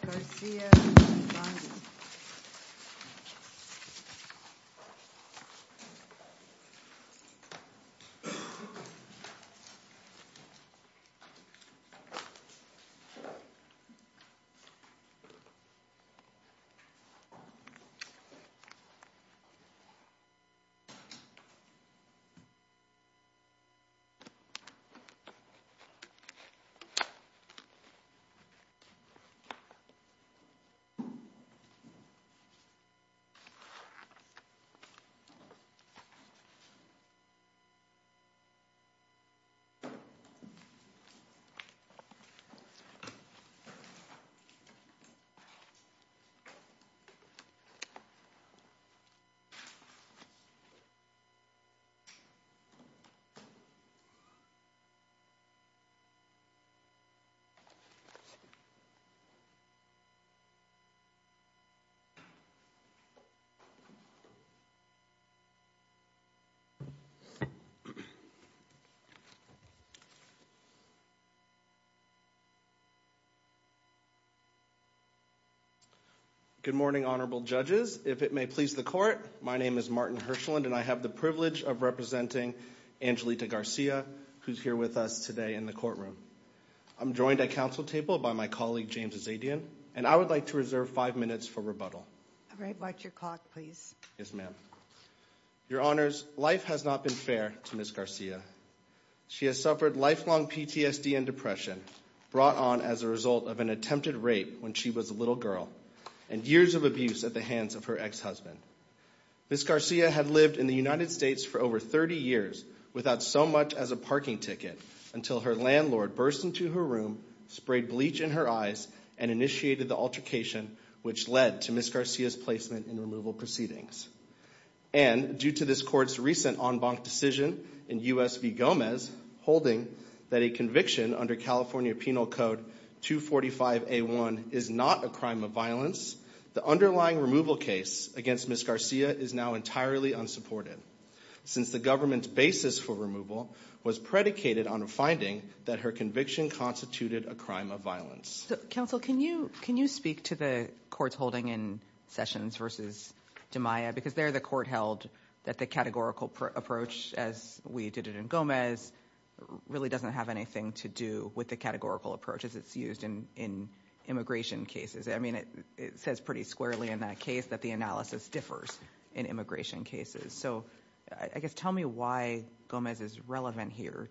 Garcia v. Bondi Garcia v. Bondi Good morning, honorable judges. If it may please the court, my name is Martin Hirschland and I have the privilege of representing Angelita Garcia, who's here with us today in the courtroom. I'm joined at council table by my colleague James Azadian and I would like to reserve five minutes for rebuttal. All right, watch your clock please. Yes ma'am. Your honors, life has not been fair to Ms. Garcia. She has suffered lifelong PTSD and depression brought on as a result of an attempted rape when she was a little girl and years of abuse at the hands of her ex-husband. Ms. Garcia had lived in the United States for over 30 years without so much as a until her landlord burst into her room, sprayed bleach in her eyes, and initiated the altercation which led to Ms. Garcia's placement in removal proceedings. And due to this court's recent en banc decision in US v. Gomez holding that a conviction under California Penal Code 245A1 is not a crime of violence, the underlying removal case against Ms. Garcia is now entirely unsupported since the government's basis for removal was predicated on a finding that her conviction constituted a crime of violence. Counsel, can you speak to the courts holding in Sessions v. DiMaia because there the court held that the categorical approach as we did it in Gomez really doesn't have anything to do with the categorical approach as it's used in immigration cases. I mean it says pretty squarely in that case that the analysis differs in immigration cases. So I guess tell me why Gomez is relevant here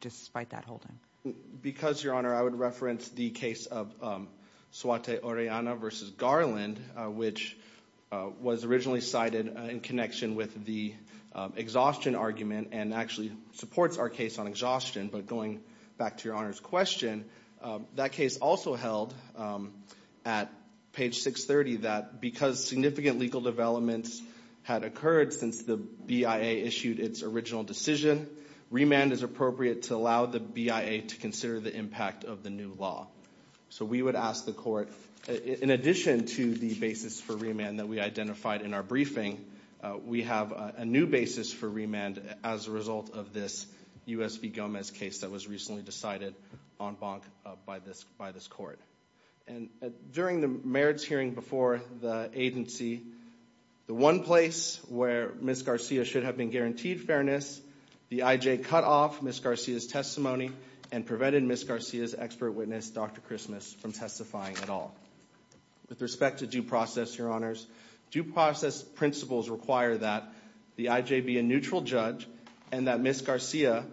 despite that holding. Because, Your Honor, I would reference the case of Suate Orellana v. Garland which was originally cited in connection with the exhaustion argument and actually supports our case on exhaustion. But going back to Your Honor's question, that case also held at page 630 that because significant legal developments had occurred since the BIA issued its original decision, remand is appropriate to allow the BIA to consider the impact of the new law. So we would ask the court, in addition to the basis for remand that we identified in our briefing, we have a new basis for remand as a result of this U.S. v. Gomez case that was recently decided en banc by this court. And during the merits hearing before the agency, the one place where Ms. Garcia should have been guaranteed fairness, the I.J. cut off Ms. Garcia's testimony and prevented Ms. Garcia's expert witness, Dr. Christmas, from testifying at all. With respect to due process, Your Honors, due process principles require that the I.J. be a neutral judge and that Ms. Garcia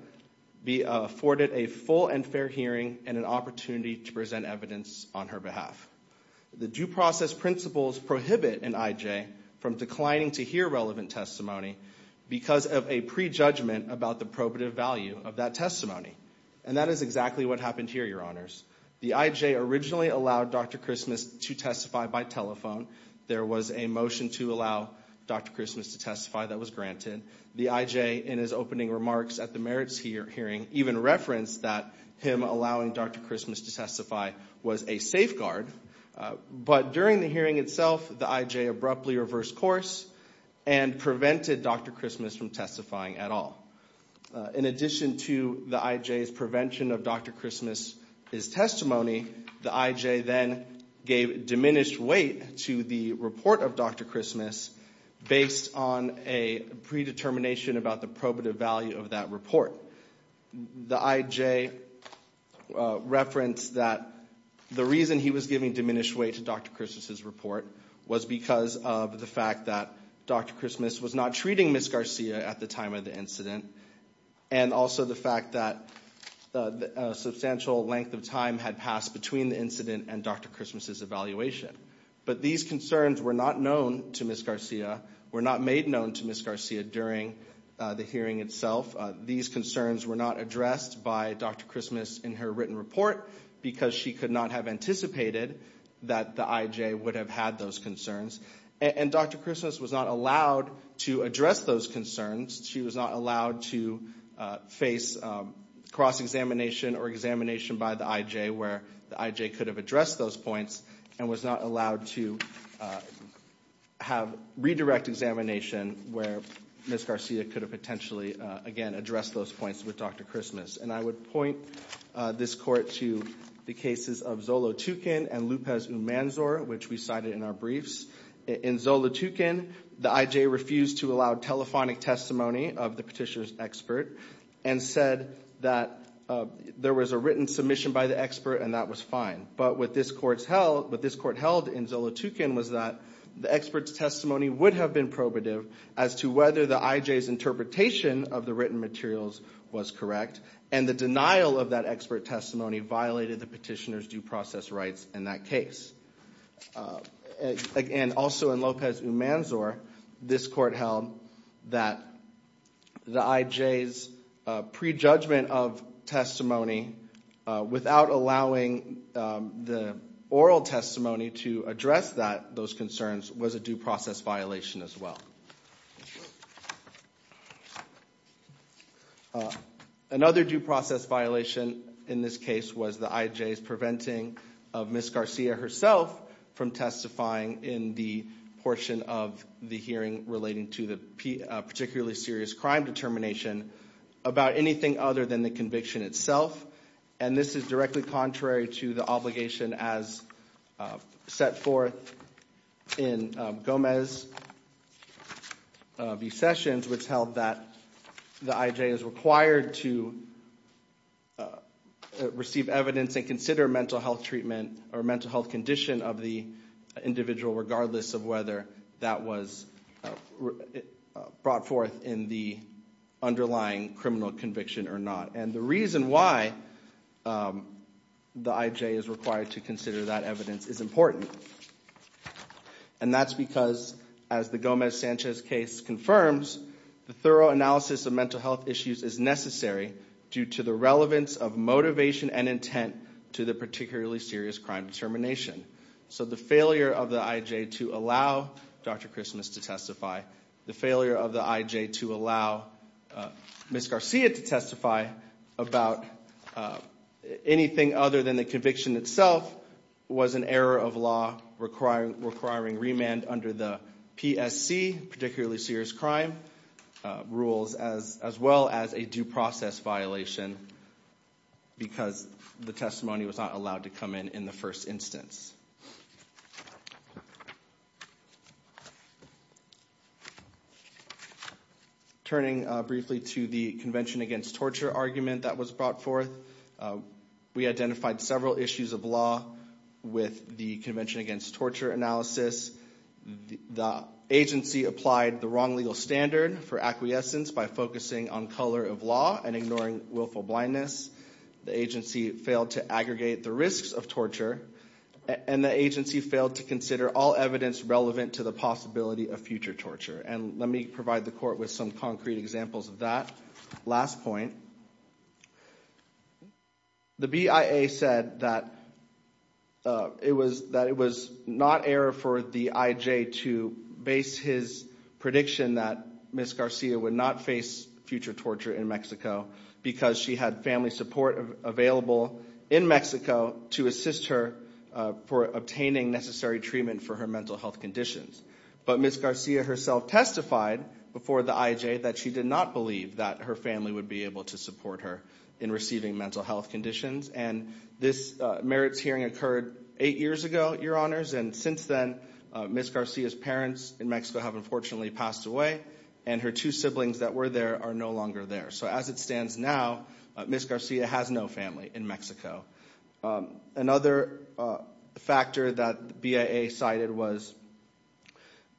be afforded a full and fair hearing and an opportunity to present evidence on her behalf. The due process principles prohibit an I.J. from declining to hear relevant testimony because of a prejudgment about the probative value of that testimony. And that is exactly what happened here, Your Honors. The I.J. originally allowed Dr. Christmas to testify by telephone. There was a motion to allow Dr. Christmas to testify that was granted. The I.J. in his opening remarks at the merits hearing even referenced that him allowing Dr. Christmas to testify was a safeguard. But during the hearing itself, the I.J. abruptly reversed course and prevented Dr. Christmas from testifying at all. In addition to the I.J.'s prevention of Dr. Christmas's testimony, the I.J. then gave diminished weight to the report of Dr. Christmas based on a predetermination about the probative value of that report. The I.J. referenced that the reason he was giving diminished weight to Dr. Christmas's report was because of the fact that Dr. Christmas was not treating Ms. Garcia at the time of the incident and also the fact that a substantial length of time had passed between the incident and Dr. Christmas's evaluation. But these concerns were not known to Ms. Garcia, were not made known to Ms. Garcia during the hearing itself. These concerns were not addressed by Dr. Christmas in her written report because she could not have anticipated that the I.J. would have had those concerns. And Dr. Christmas was not allowed to address those concerns. She was not allowed to face cross-examination or examination by the I.J. where the I.J. could have addressed those points and was not allowed to have redirect examination where Ms. Garcia could have potentially, again, addressed those points with Dr. Christmas. And I would point this court to the cases of Zolotukin and Lupez-Umanzor, which we cited in our briefs. In Zolotukin, the I.J. refused to allow telephonic testimony of the petitioner's expert and said that there was a written submission by the expert and that was fine. But what this court held in Zolotukin was that the expert's testimony would have been probative as to whether the I.J.'s interpretation of the written materials was correct. And the denial of that expert testimony violated the petitioner's due process rights in that case. Again, also in Lupez-Umanzor, this court held that the I.J.'s prejudgment of testimony without allowing the oral testimony to address those concerns was a due process violation as well. Another due process violation in this case was the I.J.'s preventing of Ms. Garcia herself from testifying in the portion of the hearing relating to the particularly serious crime determination about anything other than the conviction itself. And this is directly contrary to the obligation as set forth in Gomez v. Sessions, which held that the I.J. is required to receive evidence and consider mental health treatment or mental health condition of the individual regardless of whether that was brought forth in the underlying criminal conviction or not. And the reason why the I.J. is required to consider that evidence is important. And that's because, as the Gomez-Sanchez case confirms, the thorough analysis of mental health is necessary due to the relevance of motivation and intent to the particularly serious crime determination. So the failure of the I.J. to allow Dr. Christmas to testify, the failure of the I.J. to allow Ms. Garcia to testify about anything other than the conviction itself was an error of law requiring remand under the PSC, particularly serious crime rules, as well as a due process violation because the testimony was not allowed to come in in the first instance. Turning briefly to the Convention Against Torture argument that was brought forth, we identified several issues of law with the Convention Against Torture analysis. The agency applied the wrong legal standard for acquiescence by focusing on color of law and ignoring willful blindness. The agency failed to aggregate the risks of torture, and the agency failed to consider all evidence relevant to the possibility of future torture. Let me provide the court with some concrete examples of that. The BIA said that it was not error for the I.J. to base his prediction that Ms. Garcia would not face future torture in Mexico because she had family support available in Mexico to assist her for obtaining necessary treatment for her mental health conditions. But Ms. Garcia herself testified before the I.J. that she did not believe that her family would be able to support her in receiving mental health conditions. And this merits hearing occurred eight years ago, Your Honors, and since then Ms. Garcia's parents in Mexico have unfortunately passed away, and her two siblings that were there are no longer there. So as it stands now, Ms. Garcia has no family in Mexico. Another factor that the BIA cited was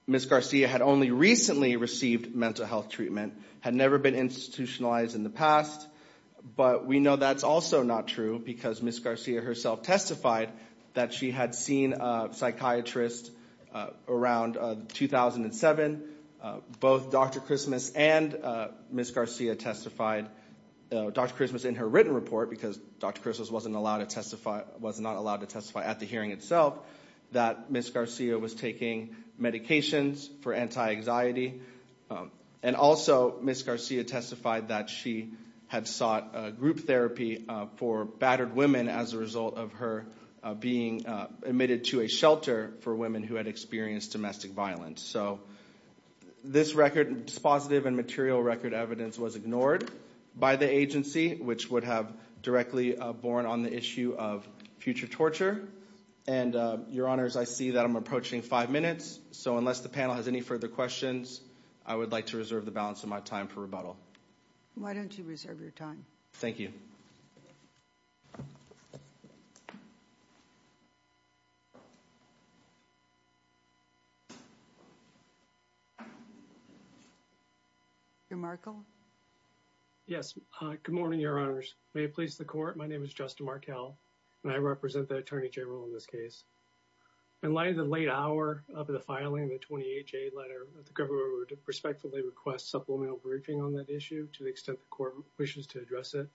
Ms. Garcia had only recently received mental health treatment, had never been institutionalized in the past, but we know that's also not true because Ms. Garcia herself testified that she had seen a psychiatrist around 2007. Both Dr. Christmas and Ms. Garcia testified, Dr. Christmas in her written report, because Dr. Christmas was not allowed to testify at the hearing itself, that Ms. Garcia was taking medications for anti-anxiety. And also, Ms. Garcia testified that she had sought group therapy for battered women as a result of her being admitted to a shelter for women who had experienced domestic violence. So this record, dispositive and material record evidence was ignored by the agency, which would have directly borne on the issue of future torture. And Your Honors, I see that I'm approaching five minutes, so unless the panel has any further questions, I would like to reserve the balance of my time for rebuttal. Why don't you reserve your time? Thank you. Your Honor. Yes. Good morning, Your Honors. May it please the Court, my name is Justin Markell, and I represent the Attorney General in this case. In light of the late hour of the filing of the briefing on that issue, to the extent the Court wishes to address it,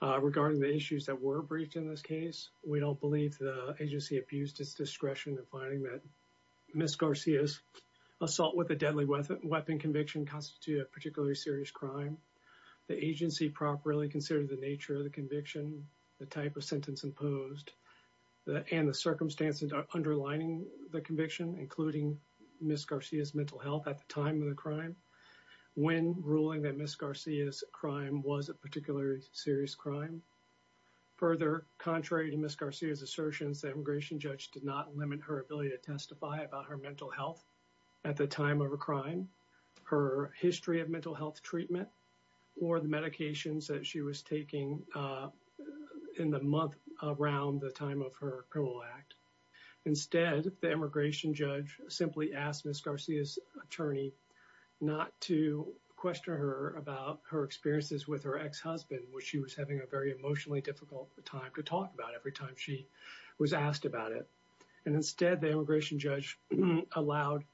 regarding the issues that were briefed in this case, we don't believe the agency abused its discretion in finding that Ms. Garcia's assault with a deadly weapon conviction constituted a particularly serious crime. The agency properly considered the nature of the conviction, the type of sentence imposed, and the circumstances underlining the conviction, including Ms. Garcia's mental health at the time of the crime, when ruling that Ms. Garcia's crime was a particularly serious crime. Further, contrary to Ms. Garcia's assertions, the immigration judge did not limit her ability to testify about her mental health at the time of her crime, her history of mental health treatment, or the medications that she was taking, uh, in the month around the time of her criminal act. Instead, the immigration judge simply asked Ms. Garcia's attorney not to question her about her experiences with her ex-husband, which she was having a very emotionally difficult time to talk about every time she was asked about it. And instead, the immigration judge allowed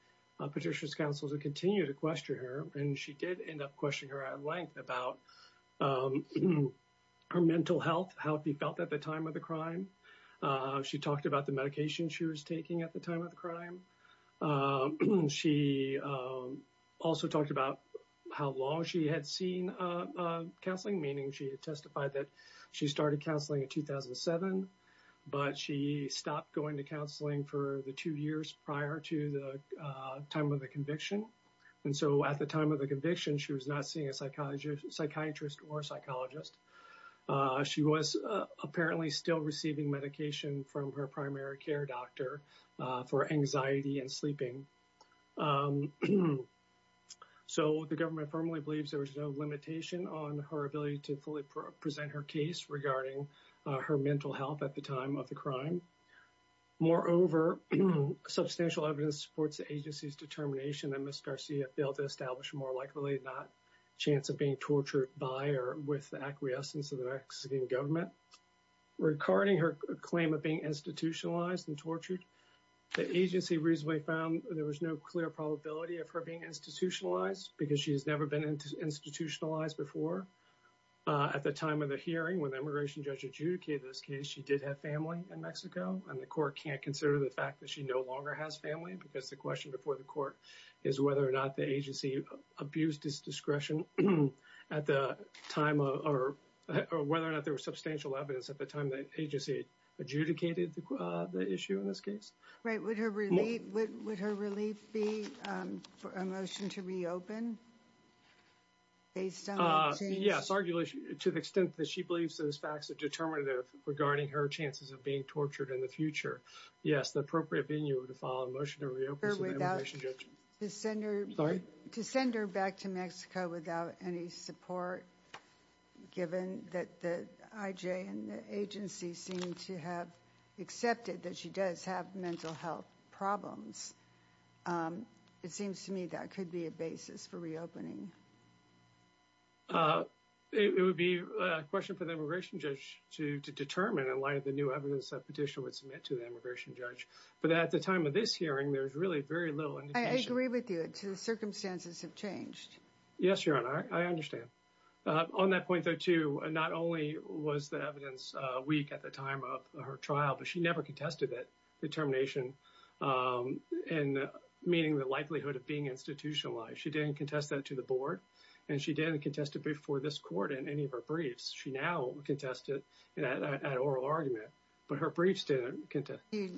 Petitioner's Counsel to continue to question her, and she did end up questioning her at length about, um, her mental health, how she felt at the time of the crime. She talked about the medication she was taking at the time of the crime. She, um, also talked about how long she had seen, uh, uh, counseling, meaning she testified that she started counseling in 2007, but she stopped going to counseling for the two years prior to the, uh, time of the conviction. And so at the time of the conviction, she was not seeing a psychiatrist or psychologist. Uh, she was, uh, apparently still receiving medication from her primary care doctor, uh, for anxiety and sleeping. Um, so the government firmly believes there was no limitation on her ability to fully present her case regarding, uh, her mental health at the time of the crime. Moreover, substantial evidence supports the agency's determination that Ms. Petitioner was a victim of a domestic violence case. The agency's claim of being institutionalized and tortured, the agency reasonably found there was no clear probability of her being institutionalized because she has never been institutionalized before. Uh, at the time of the hearing when the immigration judge adjudicated this case, she did have family in Mexico, and the court can't consider the fact that she no longer has family because the question before the court is whether or not the agency abused its discretion at the time or whether or not there was substantial evidence at the time the agency adjudicated, uh, the issue in this case. Right. Would her relief, would her relief be, um, for a motion to reopen based on the change? Yes, arguably to the extent that she believes those facts are determinative regarding her chances of being tortured in the future. Yes, the appropriate venue to file a motion to reopen without the senator, to send her back to Mexico without any support given that the IJ and the agency seem to have accepted that she does have mental health problems. Um, it seems to me that could be a basis for reopening. Uh, it would be a question for the immigration judge to, to determine in light of the new evidence that Petitioner would submit to the immigration judge, but at the time of this hearing, there's really very little indication. I agree with you. The circumstances have changed. Yes, Your Honor, I understand. Uh, on that point, though, too, not only was the evidence, uh, weak at the time of her trial, but she never contested that determination, um, in meaning the likelihood of being institutionalized. She didn't contest that to the board, and she didn't contest it before this court in any of her briefs. She now contested it at oral argument, but her briefs contested it.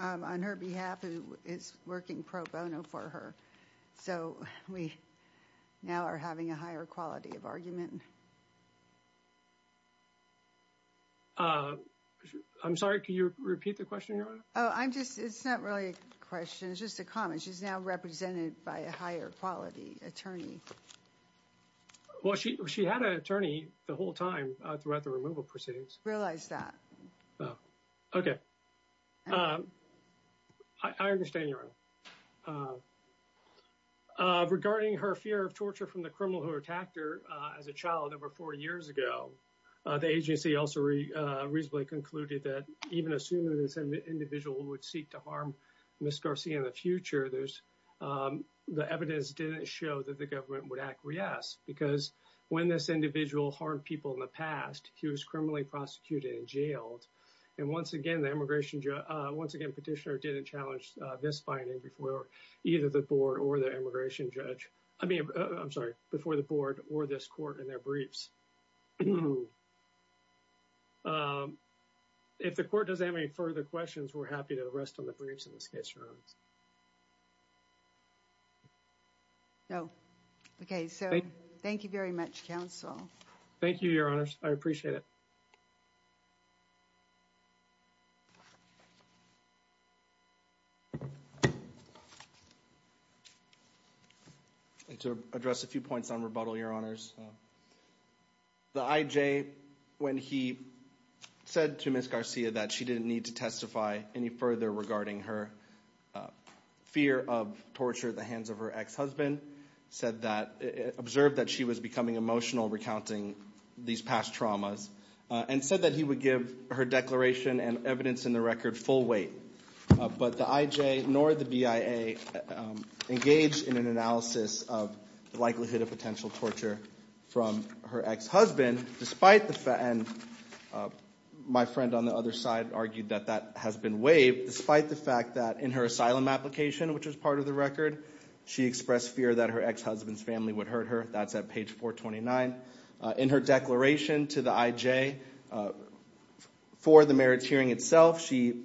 Um, on her behalf, who is working pro bono for her, so we now are having a higher quality of argument. Uh, I'm sorry, could you repeat the question, Your Honor? Oh, I'm just, it's not really a question. It's just a comment. She's now represented by a higher quality attorney. Well, she, she had an attorney the whole time, uh, throughout the removal proceedings. Realize that. Oh, okay. Um, I understand, Your Honor. Uh, regarding her fear of torture from the criminal who attacked her, uh, as a child over four years ago, uh, the agency also, uh, reasonably concluded that even assuming this individual would seek to harm Ms. Garcia in the future, there's, um, the evidence didn't show that the government would acquiesce because when this individual harmed people in the past, he was criminally prosecuted and jailed. And once again, the immigration judge, uh, once again, petitioner didn't challenge, uh, this finding before either the board or the immigration judge. I mean, I'm sorry, before the board or this court in their briefs. Um, if the court doesn't have any further questions, we're happy to rest on the briefs in this case, Your Honor. No. Okay. So thank you very much, counsel. Thank you, Your Honor. I appreciate it. I'd like to address a few points on rebuttal, Your Honors. The IJ, when he said to Ms. Garcia that she didn't need to testify any further regarding her, uh, fear of torture at the hands of her ex-husband, said that, uh, observed that she was becoming emotional recounting these past traumas, uh, and said that he would give her declaration and evidence in the record full weight. Uh, but the IJ nor the BIA, um, engaged in an analysis of the likelihood of potential torture from her ex-husband, despite the fact, and, uh, my friend on the other side argued that that has been waived, despite the fact that in her asylum application, which was part of the record, she expressed fear that her ex-husband's family would hurt her. That's at page 429. In her declaration to the IJ, uh, for the merits hearing itself, she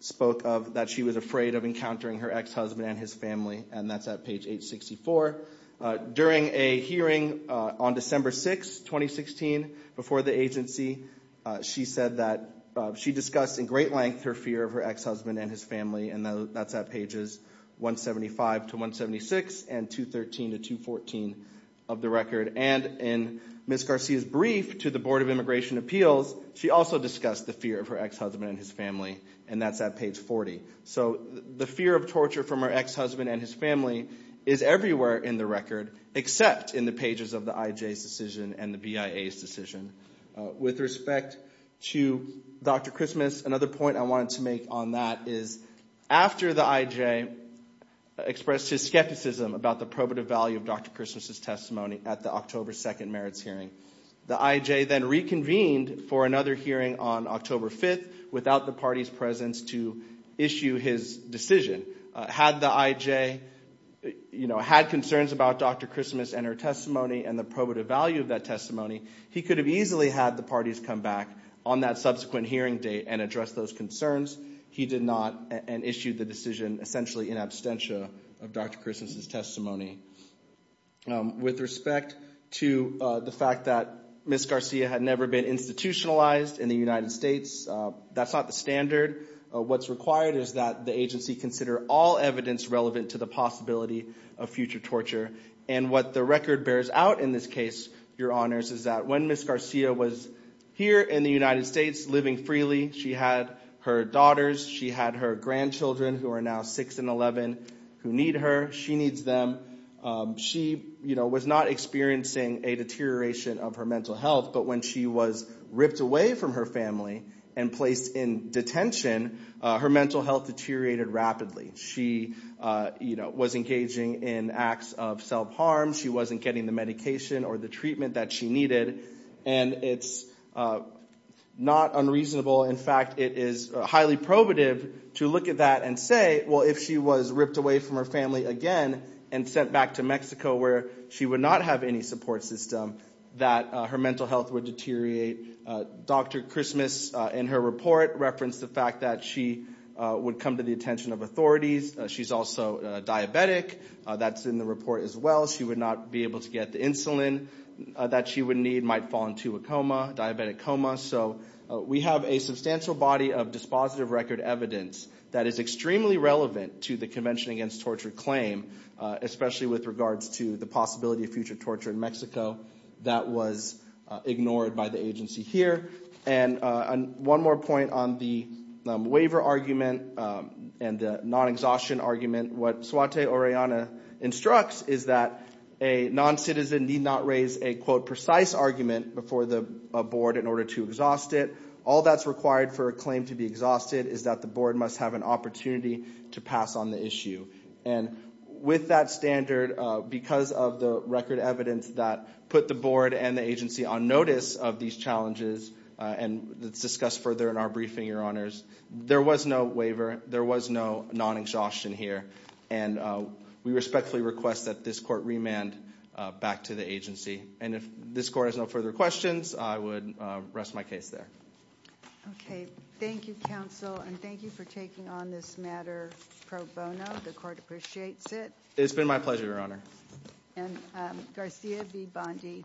spoke of that she was afraid of encountering her ex-husband and his family, and that's at page 864. Uh, during a hearing, uh, on December 6, 2016, before the agency, uh, she said that, uh, she discussed in great length her fear of her ex-husband and his family, and that's at pages 175 to 176 and 213 to 214 of the record. And in Ms. Garcia's brief to the Board of Immigration Appeals, she also discussed the of her ex-husband and his family, and that's at page 40. So the fear of torture from her ex-husband and his family is everywhere in the record, except in the pages of the IJ's decision and the BIA's decision. Uh, with respect to Dr. Christmas, another point I wanted to make on that is after the IJ expressed his skepticism about the probative value of Dr. Christmas's testimony at the October 2nd merits hearing, the IJ then reconvened for another hearing on October 5th without the party's presence to issue his decision. Had the IJ, you know, had concerns about Dr. Christmas and her testimony and the probative value of that testimony, he could have easily had the parties come back on that subsequent hearing date and address those concerns. He did not and issued the decision essentially in absentia of Dr. Christmas's testimony. With respect to the fact that Ms. Garcia had never been institutionalized in the United States, that's not the standard. What's required is that the agency consider all evidence relevant to the possibility of future torture. And what the record bears out in this case, Your Honors, is that when Ms. Garcia was here in the United States living freely, she had her daughters, she had her grandchildren who are now 6 and 11 who need her, she needs them. She, you know, was not experiencing a deterioration of her mental health. But when she was ripped away from her family and placed in detention, her mental health deteriorated rapidly. She, you know, was engaging in acts of self-harm. She wasn't getting the medication or treatment that she needed. And it's not unreasonable. In fact, it is highly probative to look at that and say, well, if she was ripped away from her family again and sent back to Mexico where she would not have any support system, that her mental health would deteriorate. Dr. Christmas in her report referenced the fact that she would come to the attention of authorities. She's also diabetic. That's in the report as well. She would not be able to get the insulin that she would need, might fall into a coma, diabetic coma. So we have a substantial body of dispositive record evidence that is extremely relevant to the Convention Against Torture claim, especially with regards to the possibility of future torture in Mexico that was ignored by the agency here. And one more point on the waiver argument and the non-exhaustion argument. What non-citizen need not raise a, quote, precise argument before the board in order to exhaust it. All that's required for a claim to be exhausted is that the board must have an opportunity to pass on the issue. And with that standard, because of the record evidence that put the board and the agency on notice of these challenges, and that's discussed further in our briefing, your honors, there was no waiver. There was no non-exhaustion here. And we respectfully request that this court remand back to the agency. And if this court has no further questions, I would rest my case there. Okay. Thank you, counsel. And thank you for taking on this matter pro bono. The court appreciates it. It's been my pleasure, your honor. And Garcia V. Bondi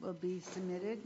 will be submitted.